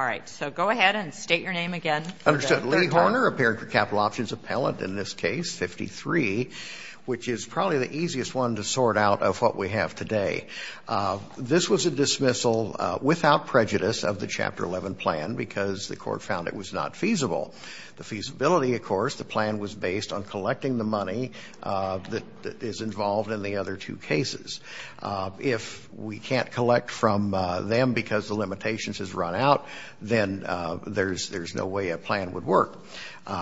Leigh Horner appeared for Capital Options Appellant in this case, 53, which is probably the easiest one to sort out of what we have today. This was a dismissal without prejudice of the Chapter 11 plan because the court found it was not feasible. The feasibility, of course, the plan was based on collecting the money that is involved in the other two cases. If we can't collect from them because the limitations has run out, then there's no way a plan would work.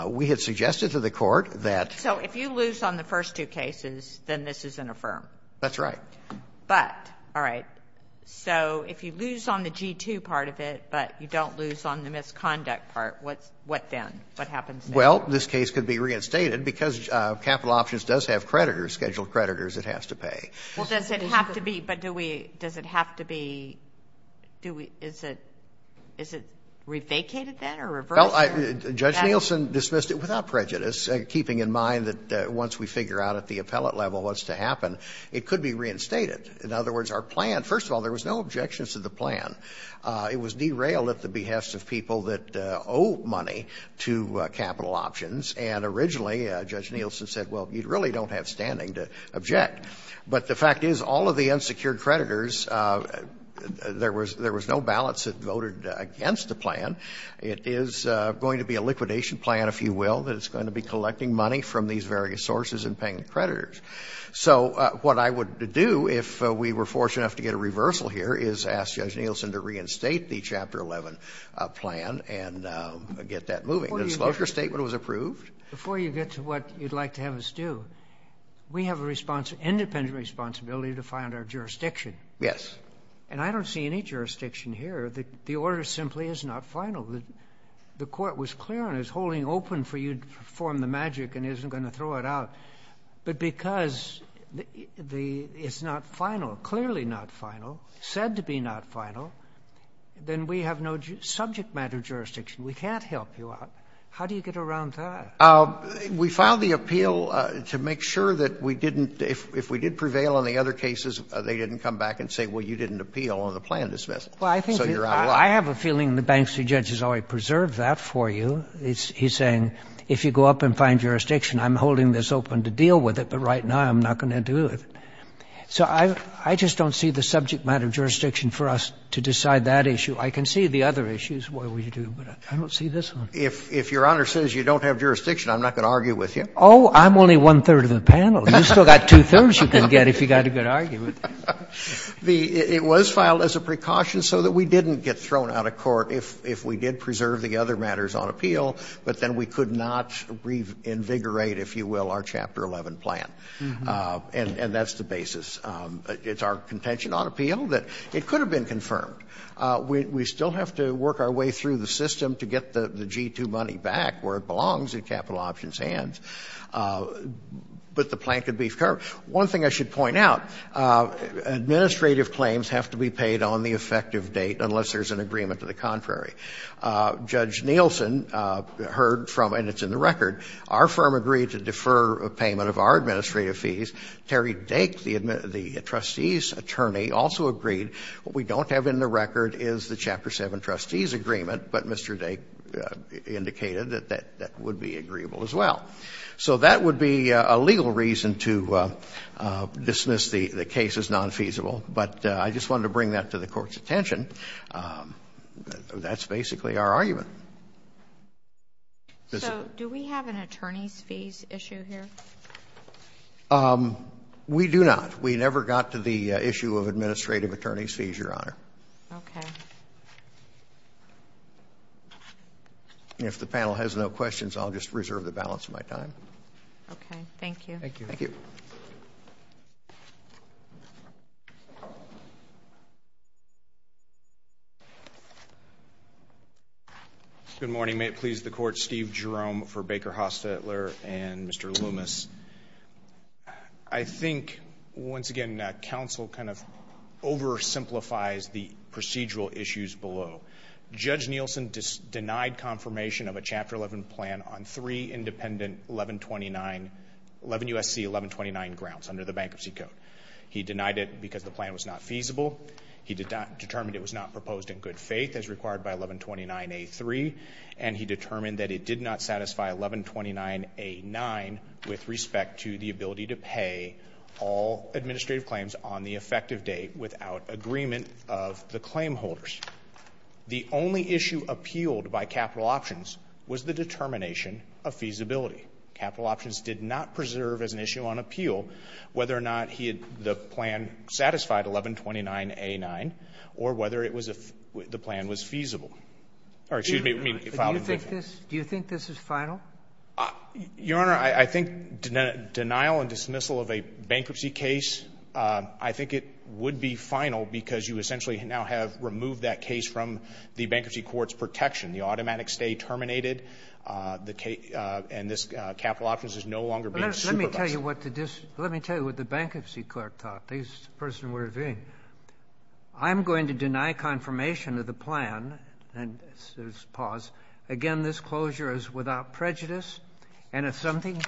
We had suggested to the court that – So if you lose on the first two cases, then this is an affirm? That's right. But, all right, so if you lose on the G-2 part of it but you don't lose on the misconduct part, what then? What happens then? Well, this case could be reinstated because Capital Options does have creditors, scheduled creditors it has to pay. Well, does it have to be – but do we – does it have to be – is it re-vacated then or reversed? Judge Nielsen dismissed it without prejudice, keeping in mind that once we figure out at the appellate level what's to happen, it could be reinstated. In other words, our plan – first of all, there was no objections to the plan. It was derailed at the behest of people that owe money to Capital Options, and originally Judge Nielsen said, well, you really don't have standing to object. But the fact is, all of the unsecured creditors, there was no ballots that voted against the plan. It is going to be a liquidation plan, if you will, that is going to be collecting money from these various sources and paying the creditors. So what I would do if we were fortunate enough to get a reversal here is ask Judge Nielsen to reinstate the Chapter 11 plan and get that moving. The disclosure statement was approved. Before you get to what you'd like to have us do, we have an independent responsibility to find our jurisdiction. Yes. And I don't see any jurisdiction here. The order simply is not final. The court was clear on it. It's holding open for you to perform the magic and isn't going to throw it out. But because it's not final, clearly not final, said to be not final, then we have no subject matter jurisdiction. We can't help you out. How do you get around that? We filed the appeal to make sure that we didn't, if we did prevail on the other cases, they didn't come back and say, well, you didn't appeal on the plan this month, so you're out of luck. Well, I have a feeling the Banksy judge has already preserved that for you. He's saying if you go up and find jurisdiction, I'm holding this open to deal with it, but right now I'm not going to do it. So I just don't see the subject matter jurisdiction for us to decide that issue. I can see the other issues, but I don't see this one. If Your Honor says you don't have jurisdiction, I'm not going to argue with you. Oh, I'm only one-third of the panel. You've still got two-thirds you can get if you've got a good argument. It was filed as a precaution so that we didn't get thrown out of court if we did preserve the other matters on appeal, but then we could not reinvigorate, if you will, our Chapter 11 plan. And that's the basis. It's our contention on appeal that it could have been confirmed. We still have to work our way through the system to get the G-2 money back where it belongs in capital options hands. But the plan could be confirmed. One thing I should point out, administrative claims have to be paid on the effective date unless there's an agreement to the contrary. Judge Nielsen heard from, and it's in the record, our firm agreed to defer payment of our administrative fees. Terry Dake, the trustee's attorney, also agreed. What we don't have in the record is the Chapter 7 trustee's agreement, but Mr. Dake indicated that that would be agreeable as well. So that would be a legal reason to dismiss the case as nonfeasible. But I just wanted to bring that to the Court's attention. That's basically our argument. So do we have an attorney's fees issue here? We do not. We never got to the issue of administrative attorney's fees, Your Honor. Okay. If the panel has no questions, I'll just reserve the balance of my time. Okay. Thank you. Thank you. Thank you. Good morning. May it please the Court, Steve Jerome for Baker, Hostetler, and Mr. Loomis. I think, once again, counsel kind of oversimplifies the procedural issues below. Judge Nielsen denied confirmation of a Chapter 11 plan on three independent 1129, 11 U.S.C. 1129 grounds under the Bankruptcy Code. He denied it because the plan was not feasible. He determined it was not proposed in good faith as required by 1129A3. And he determined that it did not satisfy 1129A9 with respect to the ability to pay all administrative claims on the effective date without agreement of the claim holders. The only issue appealed by capital options was the determination of feasibility. Capital options did not preserve as an issue on appeal whether or not the plan satisfied 1129A9 or whether the plan was feasible. Do you think this is final? Your Honor, I think denial and dismissal of a bankruptcy case, I think it would be final because you essentially now have removed that case from the bankruptcy court's protection. The automatic stay terminated, and this capital options is no longer being supervised. Let me tell you what the bankruptcy court thought, the person we're viewing. I'm going to deny confirmation of the plan. And there's pause. Again, this closure is without prejudice. And if something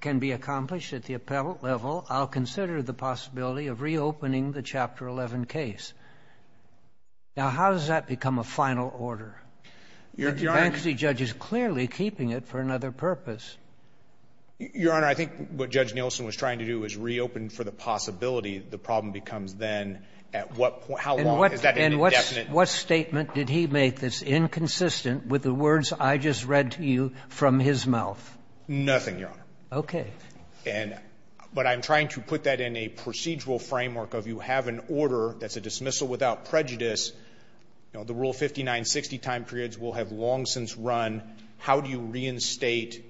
can be accomplished at the appellate level, I'll consider the possibility of reopening the Chapter 11 case. Now, how does that become a final order? The bankruptcy judge is clearly keeping it for another purpose. Your Honor, I think what Judge Nielsen was trying to do is reopen for the possibility the problem becomes then at what point, how long, is that indefinite? And what statement did he make that's inconsistent with the words I just read to you from his mouth? Nothing, Your Honor. Okay. But I'm trying to put that in a procedural framework of you have an order that's a dismissal without prejudice. The Rule 5960 time periods will have long since run. How do you reinstate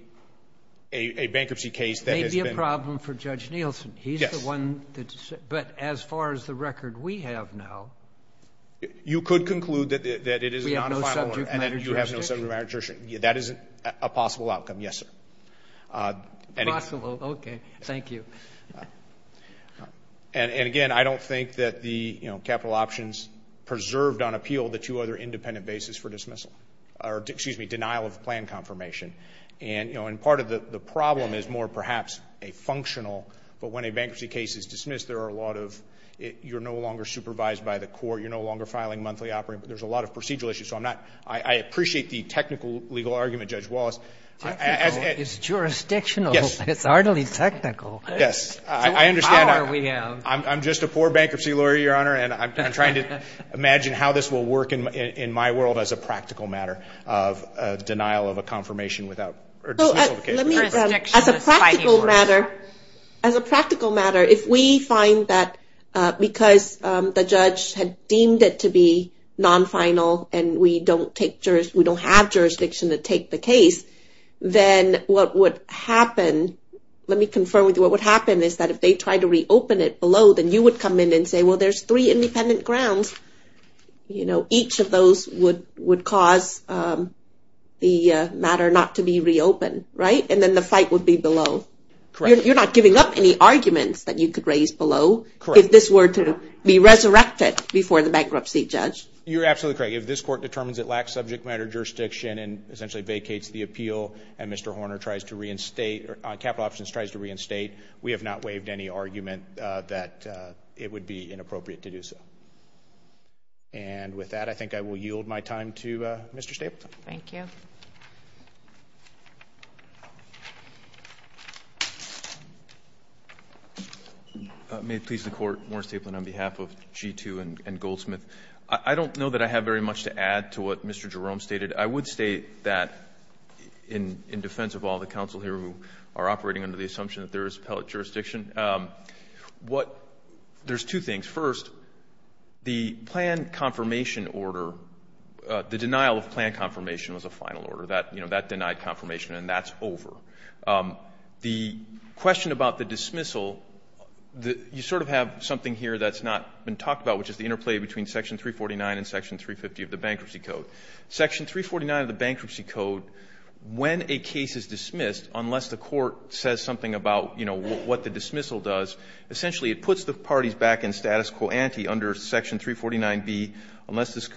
a bankruptcy case that has been ---- It may be a problem for Judge Nielsen. Yes. But as far as the record we have now ---- You could conclude that it is a non-final order. We have no subject matter jurisdiction. You have no subject matter jurisdiction. That is a possible outcome, yes, sir. Possible. Okay. Thank you. And, again, I don't think that the capital options preserved on appeal the two other independent bases for dismissal or, excuse me, denial of plan confirmation. And part of the problem is more perhaps a functional, but when a bankruptcy case is dismissed, there are a lot of you're no longer supervised by the court, you're no longer filing monthly operating, but there's a lot of procedural issues. So I appreciate the technical legal argument, Judge Wallace. It's jurisdictional. Yes. It's hardly technical. Yes. I understand that. I'm just a poor bankruptcy lawyer, Your Honor, and I'm trying to imagine how this will work in my world as a practical matter of denial of a confirmation or dismissal of a case. As a practical matter, if we find that because the judge had deemed it to be non-final and we don't have jurisdiction to take the case, then what would happen, let me confirm with you, what would happen is that if they tried to reopen it below, then you would come in and say, well, there's three independent grounds. Each of those would cause the matter not to be reopened, right? And then the fight would be below. Correct. You're not giving up any arguments that you could raise below if this were to be resurrected before the bankruptcy, Judge. You're absolutely correct. If this court determines it lacks subject matter jurisdiction and essentially vacates the appeal and Mr. Horner tries to reinstate or capital options tries to reinstate, we have not waived any argument that it would be inappropriate to do so. And with that, I think I will yield my time to Mr. Stapleton. Thank you. May it please the Court, Warren Stapleton on behalf of G2 and Goldsmith. I don't know that I have very much to add to what Mr. Jerome stated. I would state that in defense of all the counsel here who are operating under the assumption that there is appellate jurisdiction, what — there's two things. First, the plan confirmation order, the denial of plan confirmation was a final order. That, you know, that denied confirmation and that's over. The question about the dismissal, you sort of have something here that's not been talked about, which is the interplay between section 349 and section 350 of the Bankruptcy Code. Section 349 of the Bankruptcy Code, when a case is dismissed, unless the court says something about, you know, what the dismissal does, essentially it puts the parties back in status quo ante under section 349B, unless this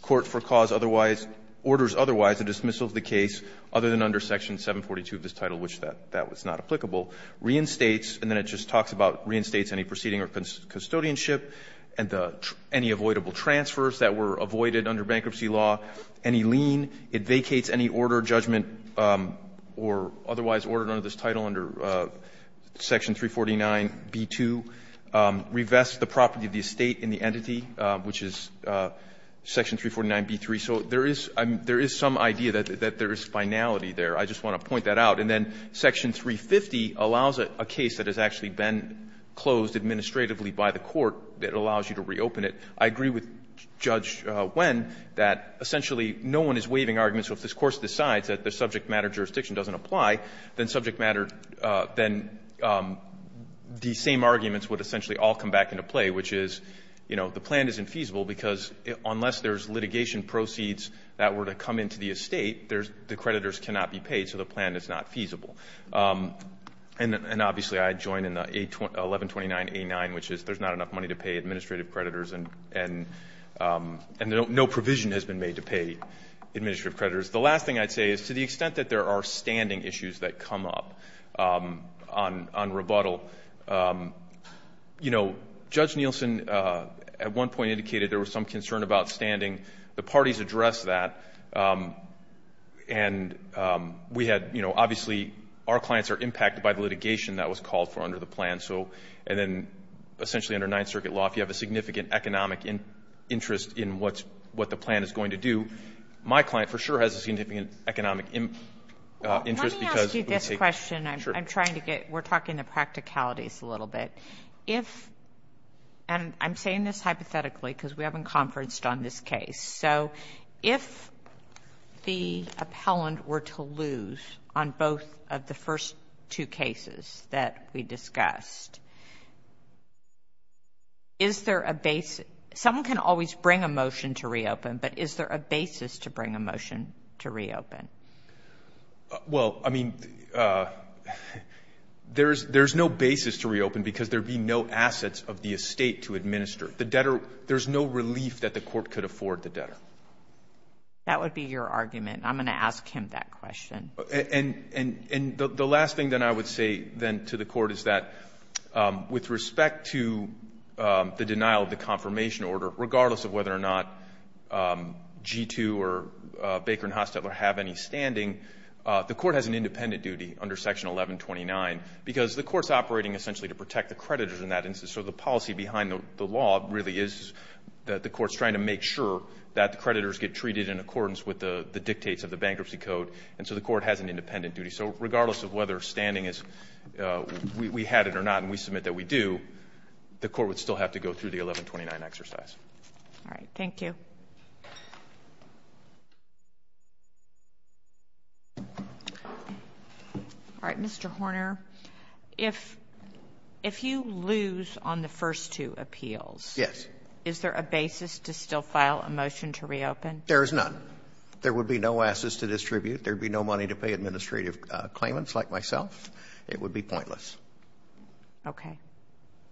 court for cause otherwise — orders otherwise, the dismissal of the case, other than under section 742 of this and the — any avoidable transfers that were avoided under bankruptcy law, any lien, it vacates any order, judgment, or otherwise ordered under this title under section 349B2, revests the property of the estate in the entity, which is section 349B3. So there is — there is some idea that there is finality there. I just want to point that out. And then section 350 allows a case that has actually been closed administratively by the court that allows you to reopen it. I agree with Judge Wynn that essentially no one is waiving arguments. So if this Court decides that the subject matter jurisdiction doesn't apply, then subject matter — then the same arguments would essentially all come back into play, which is, you know, the plan isn't feasible because unless there's litigation proceeds that were to come into the estate, there's — the creditors cannot be paid, so the plan is not feasible. And obviously I join in the 1129A9, which is there's not enough money to pay administrative creditors and no provision has been made to pay administrative creditors. The last thing I'd say is to the extent that there are standing issues that come up on rebuttal, you know, Judge Nielsen at one point indicated there was some concern about standing. The parties addressed that. And we had — you know, obviously our clients are impacted by the litigation that was called for under the plan. So — and then essentially under Ninth Circuit law, if you have a significant economic interest in what the plan is going to do, my client for sure has a significant economic interest because — Let me ask you this question. I'm trying to get — we're talking the practicalities a little bit. If — and I'm saying this hypothetically because we haven't conferenced on this case. So if the appellant were to lose on both of the first two cases that we discussed, is there a — someone can always bring a motion to reopen, but is there a basis to bring a motion to reopen? Well, I mean, there's no basis to reopen because there'd be no assets of the estate to administer. The debtor — there's no relief that the court could afford the debtor. That would be your argument. I'm going to ask him that question. And the last thing that I would say then to the court is that with respect to the denial of the confirmation order, regardless of whether or not G2 or Baker and Hostetler have any standing, the court has an independent duty under Section 1129 because the court's operating essentially to protect the creditors in that instance. So the policy behind the law really is that the court's trying to make sure that the creditors get treated in accordance with the dictates of the bankruptcy code. And so the court has an independent duty. So regardless of whether standing is — we had it or not and we submit that we do, the court would still have to go through the 1129 exercise. All right. Thank you. All right. Mr. Horner, if you lose on the first two appeals, is there a basis to still file a motion to reopen? There is none. There would be no assets to distribute. There'd be no money to pay administrative claimants like myself. It would be pointless. Okay.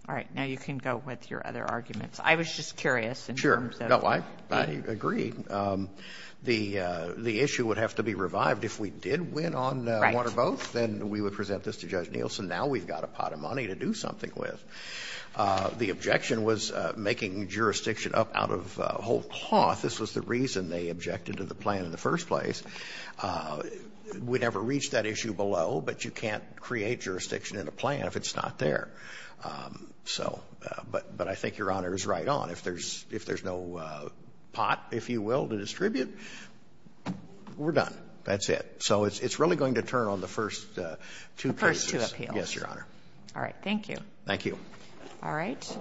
All right. Now you can go with your other arguments. I was just curious in terms of — Sure. No, I agree. The issue would have to be revived. If we did win on one or both, then we would present this to Judge Nielsen. Now we've got a pot of money to do something with. The objection was making jurisdiction up out of whole cloth. This was the reason they objected to the plan in the first place. We never reached that issue below, but you can't create jurisdiction in a plan if it's not there. So — but I think Your Honor is right on. If there's no pot, if you will, to distribute, we're done. That's it. So it's really going to turn on the first two cases. The first two appeals. Yes, Your Honor. All right. Thank you. Thank you. All right.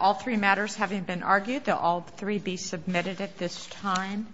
All three matters having been argued, they'll all three be submitted at this time.